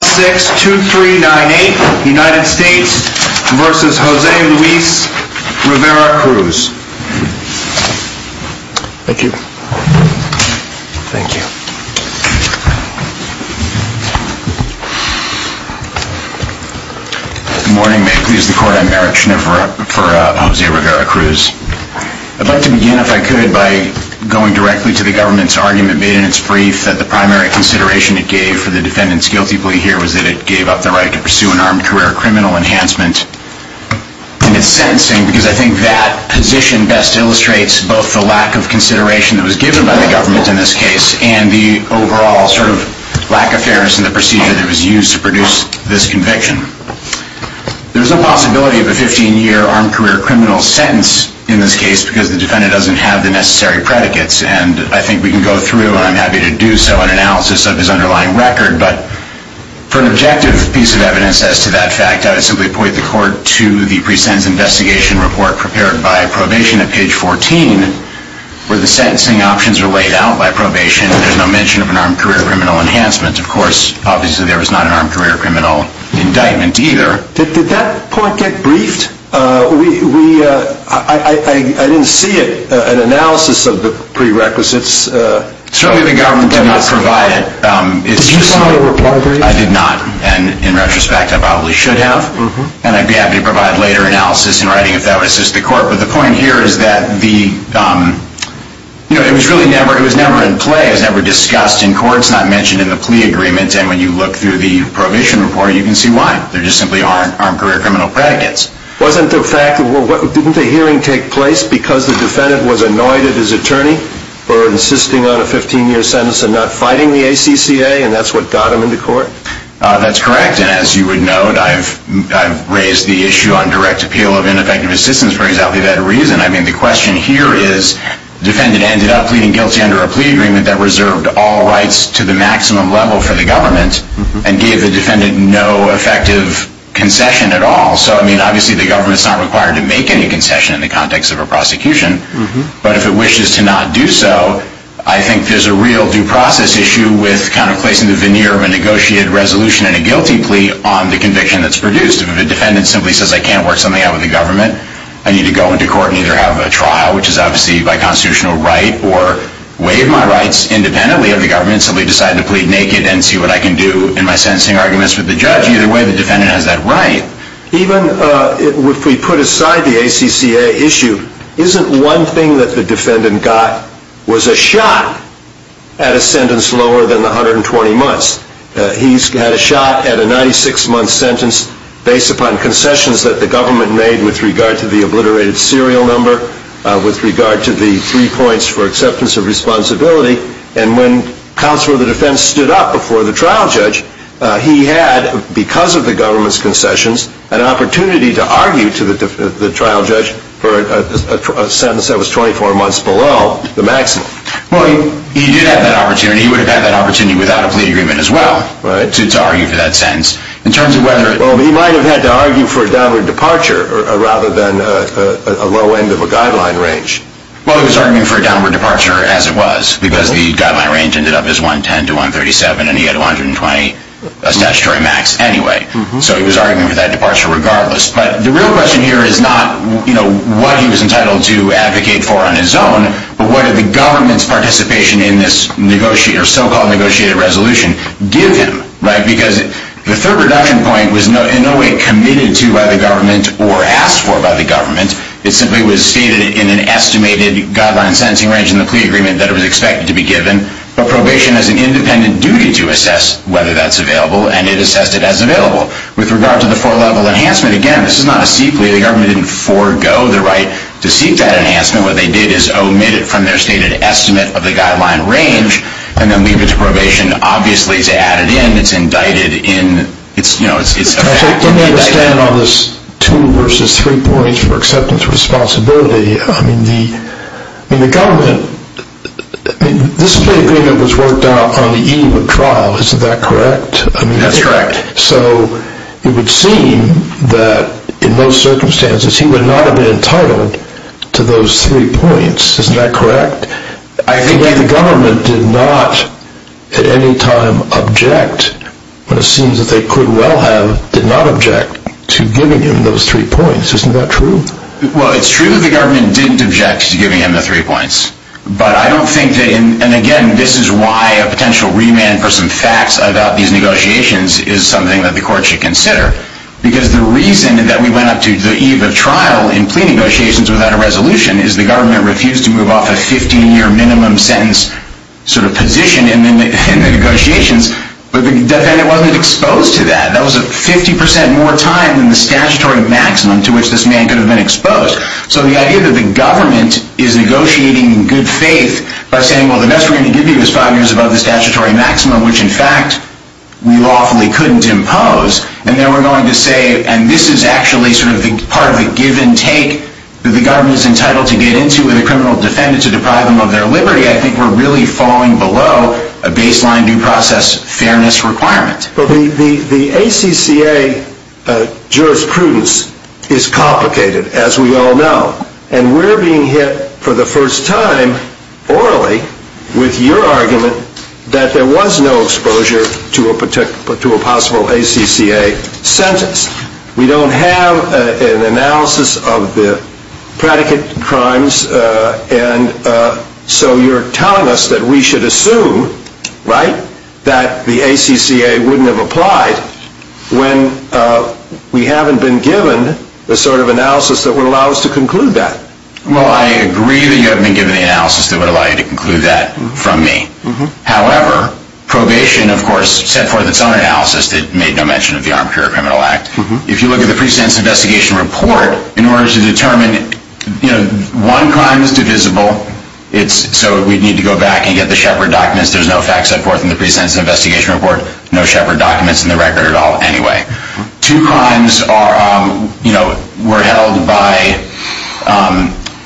Good morning. May it please the Court, I'm Eric Schneider for José Rivera-Cruz. I'd like to begin, if I could, by going directly to the government's argument made in its testimony here was that it gave up the right to pursue an armed career criminal enhancement in its sentencing because I think that position best illustrates both the lack of consideration that was given by the government in this case and the overall sort of lack of fairness in the procedure that was used to produce this conviction. There's a possibility of a 15-year armed career criminal sentence in this case because the defendant doesn't have the necessary predicates and I think we can go through, and I'm happy to do so, an analysis of his For an objective piece of evidence as to that fact, I would simply point the Court to the pre-sentence investigation report prepared by probation at page 14 where the sentencing options are laid out by probation and there's no mention of an armed career criminal enhancement. Of course, obviously there was not an armed career criminal indictment either. Did that point get briefed? I didn't see an analysis of the prerequisites. Certainly the government did not provide it. Did you file a reply brief? I did not, and in retrospect I probably should have, and I'd be happy to provide later analysis in writing if that would assist the Court, but the point here is that it was never in play, it was never discussed in court, it's not mentioned in the plea agreement, and when you look through the probation report you can see why. There just simply aren't armed career criminal predicates. Wasn't the fact that, well, didn't the hearing take place because the defendant was insisting on a 15-year sentence and not fighting the ACCA and that's what got him into court? That's correct, and as you would note, I've raised the issue on direct appeal of ineffective assistance for exactly that reason. I mean, the question here is the defendant ended up pleading guilty under a plea agreement that reserved all rights to the maximum level for the government and gave the defendant no effective concession at all. So, I mean, obviously the government's not required to make any concession in the context of a prosecution, but if it I think there's a real due process issue with kind of placing the veneer of a negotiated resolution and a guilty plea on the conviction that's produced. If the defendant simply says I can't work something out with the government, I need to go into court and either have a trial, which is obviously by constitutional right, or waive my rights independently of the government and simply decide to plead naked and see what I can do in my sentencing arguments with the judge. Either way, the defendant has that right. Even if we put aside the ACCA issue, isn't one thing that the defendant got was a shot at a sentence lower than the 120 months. He's had a shot at a 96-month sentence based upon concessions that the government made with regard to the obliterated serial number, with regard to the three points for acceptance of responsibility, and when counsel of the to argue to the trial judge for a sentence that was 24 months below the maximum. Well, he did have that opportunity. He would have had that opportunity without a plea agreement as well to argue for that sentence. Well, he might have had to argue for a downward departure rather than a low end of a guideline range. Well, he was arguing for a downward departure as it was because the guideline range ended up as 110 to 137, and he had 120 statutory max anyway. So he was arguing for that departure regardless. But the real question here is not what he was entitled to advocate for on his own, but what did the government's participation in this so-called negotiated resolution give him? Because the third reduction point was in no way committed to by the government or asked for by the government. It simply was stated in an estimated guideline sentencing range in the plea agreement that it was expected to be given, but probation has an independent duty to assess whether that's available, and it assessed it as available. With regard to the four-level enhancement, again, this is not a seat plea. The government didn't forego the right to seek that enhancement. What they did is omit it from their stated estimate of the guideline range and then leave it to probation, obviously, to add it in. It's indicted in, you know, it's effectively indicted. I don't understand all this two versus three points for acceptance responsibility. I mean, the government, this plea agreement was worked out on the eve of trial, isn't that correct? That's correct. So it would seem that in those circumstances he would not have been entitled to those three points, isn't that correct? I think that the government did not at any time object when it seems that they could well have did not object to giving him those three points. Isn't that true? Well, it's true the government didn't object to giving him the three points, but I don't think that, and again, this is why a potential remand for some facts about these negotiations is something that the court should consider, because the reason that we went up to the eve of trial in plea negotiations without a resolution is the government refused to move off a 15-year minimum sentence sort of position in the negotiations, but the defendant wasn't exposed to that. That was 50% more time than the statutory maximum to which this man could have been exposed. So the idea that the government is negotiating in good faith by saying, well, the best we're going to give you is five years above the statutory maximum, which in fact we lawfully couldn't impose, and then we're going to say, and this is actually sort of part of the give and take that the government is entitled to get into with a criminal defendant to deprive them of their liberty, I think we're really falling below a baseline due process fairness requirement. Well, the ACCA jurisprudence is complicated, as we all know, and we're being hit for the first time orally with your argument that there was no exposure to a possible ACCA sentence. We don't have an analysis of the predicate crimes, and so you're telling us that we should have applied when we haven't been given the sort of analysis that would allow us to conclude that. Well, I agree that you haven't been given the analysis that would allow you to conclude that from me. However, probation, of course, set forth its own analysis that made no mention of the Armed Career Criminal Act. If you look at the pre-sentence investigation report, in order to determine, you know, one crime is divisible, so we'd need to go back and get the Shepard documents. There's no facts set forth in the pre-sentence investigation report, no Shepard documents in the record at all anyway. Two crimes are, you know, were held by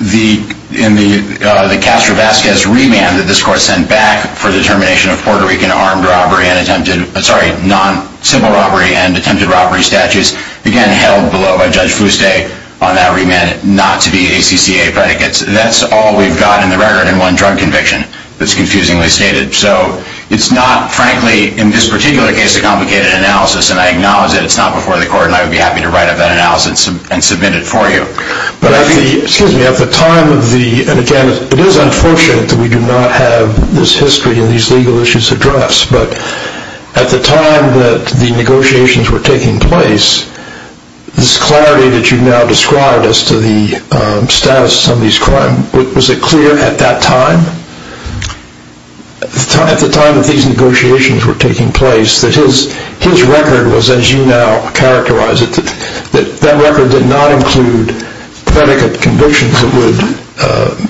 the Castro-Vasquez remand that this Court sent back for the termination of Puerto Rican armed robbery and attempted, sorry, non-civil robbery and attempted robbery statutes, again, held below by Judge Fuste on that remand, not to be ACCA predicates. That's all we've got in the record in one drug conviction that's confusingly in this particular case a complicated analysis, and I acknowledge that it's not before the Court, and I would be happy to write up that analysis and submit it for you. But at the, excuse me, at the time of the, and again, it is unfortunate that we do not have this history and these legal issues addressed, but at the time that the negotiations were taking place, this clarity that you've now described as to the status of some of these at the time that these negotiations were taking place, that his record was, as you now characterize it, that that record did not include predicate convictions that would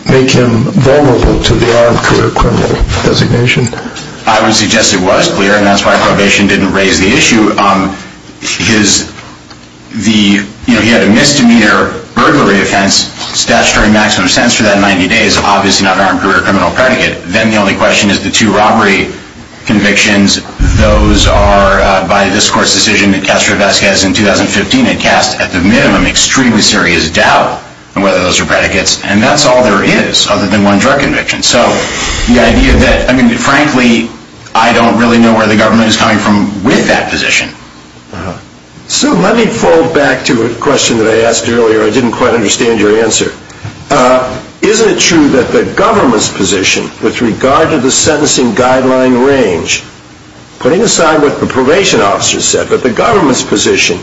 make him vulnerable to the armed career criminal designation. I would suggest it was clear, and that's why probation didn't raise the issue. His, the, you know, he had a misdemeanor burglary offense statutory maximum sense for that 90 days, obviously not an armed career criminal predicate. Then the only question is the two robbery convictions. Those are, by this Court's decision, it casts Revesquez in 2015, it casts at the minimum extremely serious doubt on whether those are predicates, and that's all there is other than one drug conviction. So the idea that, I mean, frankly, I don't really know where the government is coming from with that position. So let me fall back to a question that I asked earlier. I didn't quite understand your answer. Isn't it true that the government's position with regard to the sentencing guideline range, putting aside what the probation officer said, but the government's position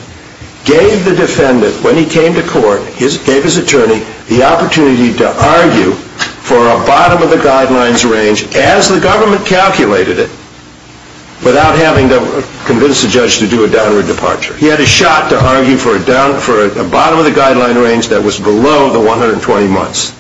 gave the defendant when he came to court, gave his attorney the opportunity to argue for a bottom of the guidelines range as the government calculated it without having to convince the judge to do a downward departure. He had a shot to argue for a bottom of the guideline range that was below the 120 months,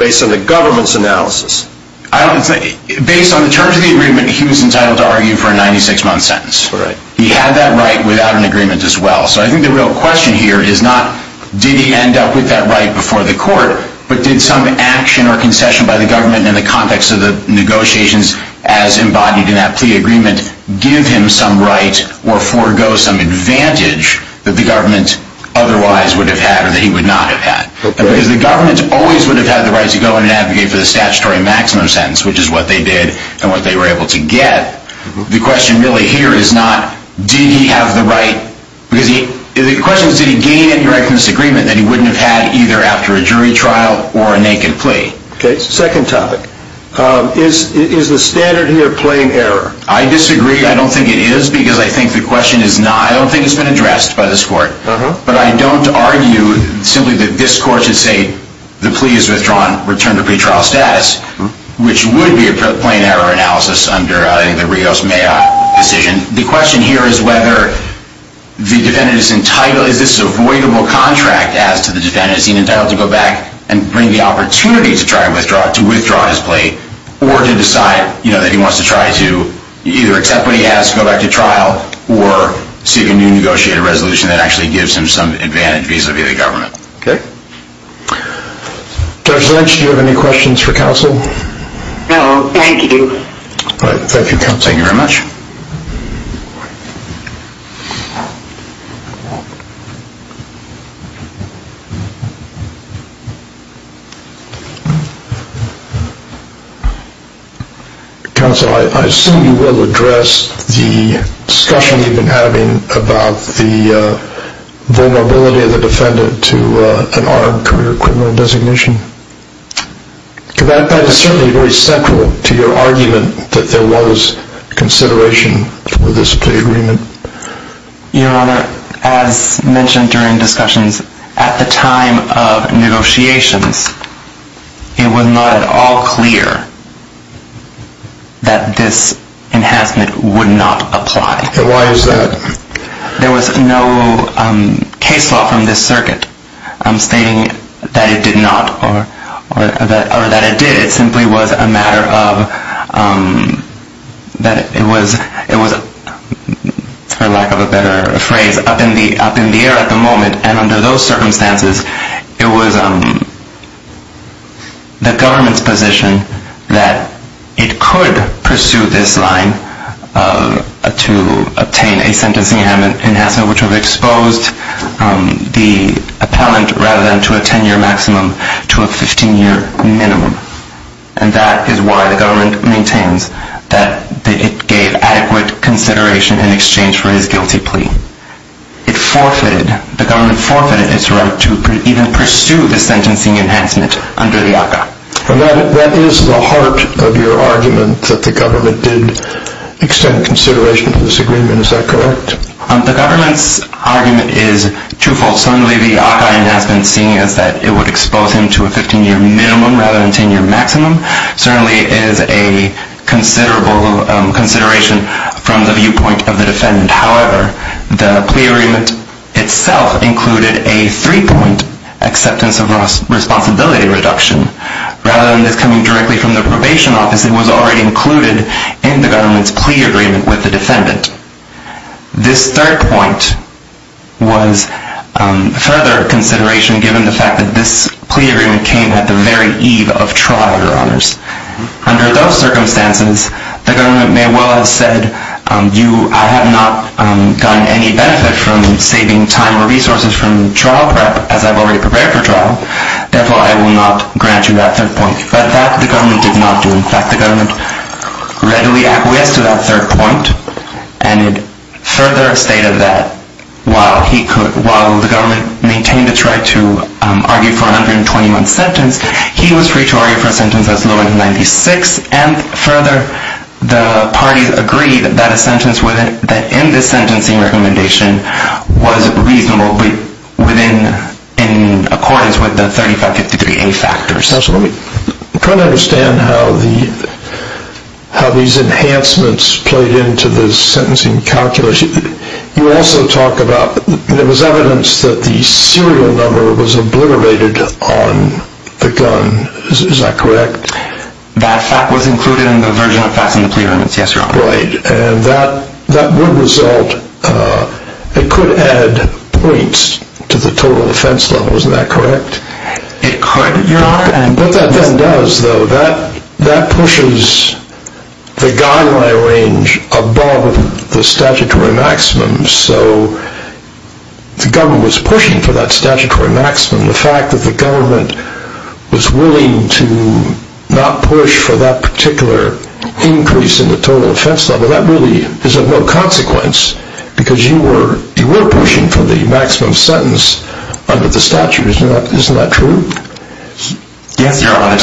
based on the government's analysis. Based on the terms of the agreement, he was entitled to argue for a 96-month sentence. He had that right without an agreement as well. So I think the real question here is not did he end up with that right before the court, but did some action or concession by the government in the context of the negotiations as embodied in that plea agreement give him some right or forego some advantage that the government otherwise would have had or that he would not have had. Because the government always would have had the right to go and advocate for the statutory maximum sentence, which is what they did and what they were able to get. The question really here is not did he have the right, because the question is did he gain any right from this agreement that he wouldn't have had either after a jury trial or a naked plea. Second topic. Is the standard here plain error? I disagree. I don't think it is, because I think the question is not. I don't think it's been addressed by this court. But I don't argue simply that this court should say the plea is withdrawn, return to pretrial status, which would be a plain error analysis under the Rios-Mayoc decision. The question here is whether the defendant is entitled, is this avoidable contract as to the defendant, is he entitled to go back and bring the opportunity to withdraw his right to either accept what he has and go back to trial or seek a new negotiated resolution that actually gives him some advantage vis-à-vis the government. Okay. Judge Lynch, do you have any questions for counsel? No, thank you. Thank you, counsel. Thank you very much. Counsel, I assume you will address the discussion you've been having about the vulnerability of the defendant to an armed career criminal designation. That is certainly very central to your argument that there was consideration for this plea agreement. Your Honor, as mentioned during discussions, at the time of negotiations, it was not at all clear that this enhancement would not apply. Why is that? There was no case law from this circuit stating that it did not or that it did. It simply was a matter of that it was, for lack of a better phrase, up in the air at the moment. And under those circumstances, it was the government's position that it could pursue this line to obtain a sentencing enhancement which would have exposed the appellant, rather than to a 10-year maximum, to a 15-year minimum. And that is why the government maintains that it gave adequate consideration in exchange for his guilty plea. It forfeited, the government forfeited its right to even pursue the sentencing enhancement under the ACCA. And that is the heart of your argument, that the government did extend consideration to this agreement. Is that correct? The government's argument is twofold. Certainly the ACCA enhancement, seeing as that it would expose him to a 15-year minimum rather than a 10-year maximum, certainly is a considerable consideration from the viewpoint of the defendant. However, the plea agreement itself included a three-point acceptance of responsibility reduction. Rather than this coming directly from the probation office, it was already included in the government's plea agreement with the defendant. This third point was further consideration given the fact that this plea agreement came at the very eve of trial, Your Honors. Under those circumstances, the government may well have said, I have not gotten any benefit from saving time or resources from trial prep as I've already prepared for trial. Therefore, I will not grant you that third point. But that, the government did not do. In fact, the government readily acquiesced to that third point and further stated that while the government maintained its right to argue for a 120-month sentence, he was free to argue for a sentence as low as 96. And further, the parties agreed that a sentence in this sentencing recommendation was reasonable within accordance with the 3553A factors. I'm trying to understand how these enhancements played into the sentencing calculation. You also talk about, there was evidence that the serial number was obliterated on the gun. Is that correct? That fact was included in the version of facts in the plea agreement, yes, Your Honor. Right. And that would result, it could add points to the total defense level. Isn't that correct? It could, Your Honor. What that then does, though, that pushes the guideline range above the statutory maximum. So, the government was pushing for that statutory maximum. The fact that the government was willing to not push for that particular increase in the total defense level, that really is of no consequence because you were pushing for the maximum sentence under the statute. Isn't that true? Yes, Your Honor.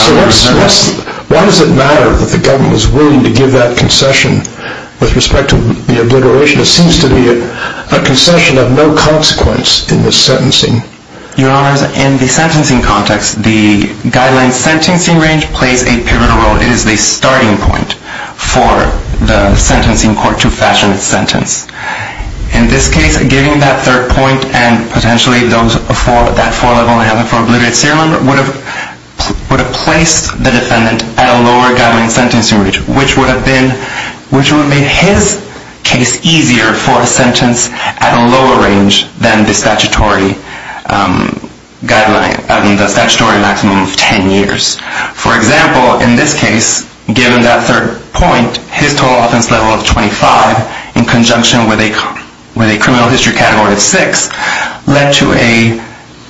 Why does it matter that the government was willing to give that concession with respect to the obliteration? It seems to be a concession of no consequence in this sentencing. Your Honors, in the sentencing context, the guideline sentencing range plays a pivotal role. It is the starting point for the sentencing court to fashion its sentence. In this case, giving that third point and potentially that four level and having four obliterated serial number would have placed the defendant at a lower guideline sentencing range, which would have been, which would have made his case easier for a sentence at a lower range than the statutory guideline, I mean the statutory maximum of 10 years. For example, in this case, given that third point, his total offense level of 25 in conjunction with a criminal history category of six led to a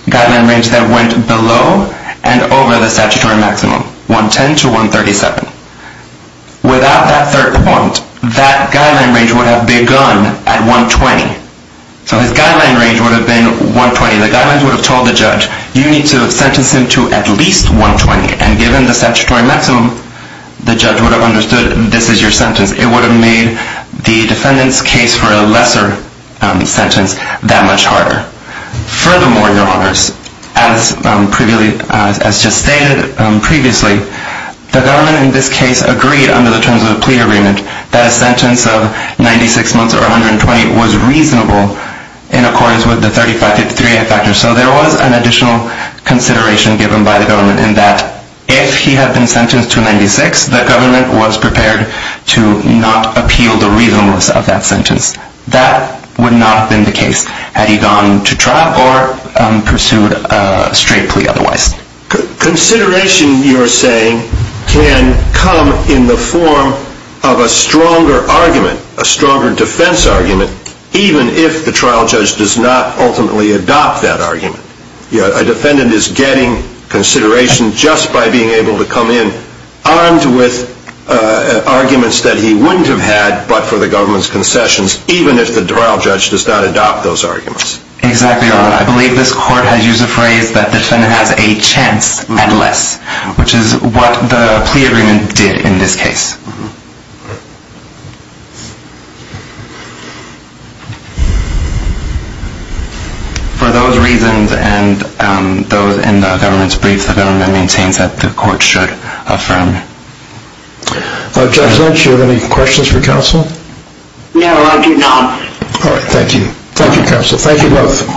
guideline range that went below and over the statutory maximum, 110 to 137. Without that third point, that guideline range would have begun at 120. So his guideline range would have been 120. The guideline would have told the judge, you need to sentence him to at least 120. And given the statutory maximum, the judge would have understood this is your sentence. It would have made the defendant's case for a lesser sentence that much harder. Furthermore, your honors, as just stated previously, the government in this case agreed under the terms of the plea agreement that a sentence of 96 months or 120 was reasonable in accordance with the 3553A factor. So there was an additional consideration given by the government in that if he had been not appealed or reasonable of that sentence, that would not have been the case had he gone to trial or pursued a straight plea otherwise. Consideration, you are saying, can come in the form of a stronger argument, a stronger defense argument, even if the trial judge does not ultimately adopt that argument. A defendant is getting consideration just by being able to come in armed with arguments that he wouldn't have had but for the government's concessions, even if the trial judge does not adopt those arguments. Exactly, your honor. I believe this court has used a phrase that the defendant has a chance at less, which is what the plea agreement did in this case. For those reasons and those in the government's brief, the government maintains that the court should affirm. Judge Lynch, do you have any questions for counsel? No, I do not. All right, thank you. Thank you, counsel. Thank you both.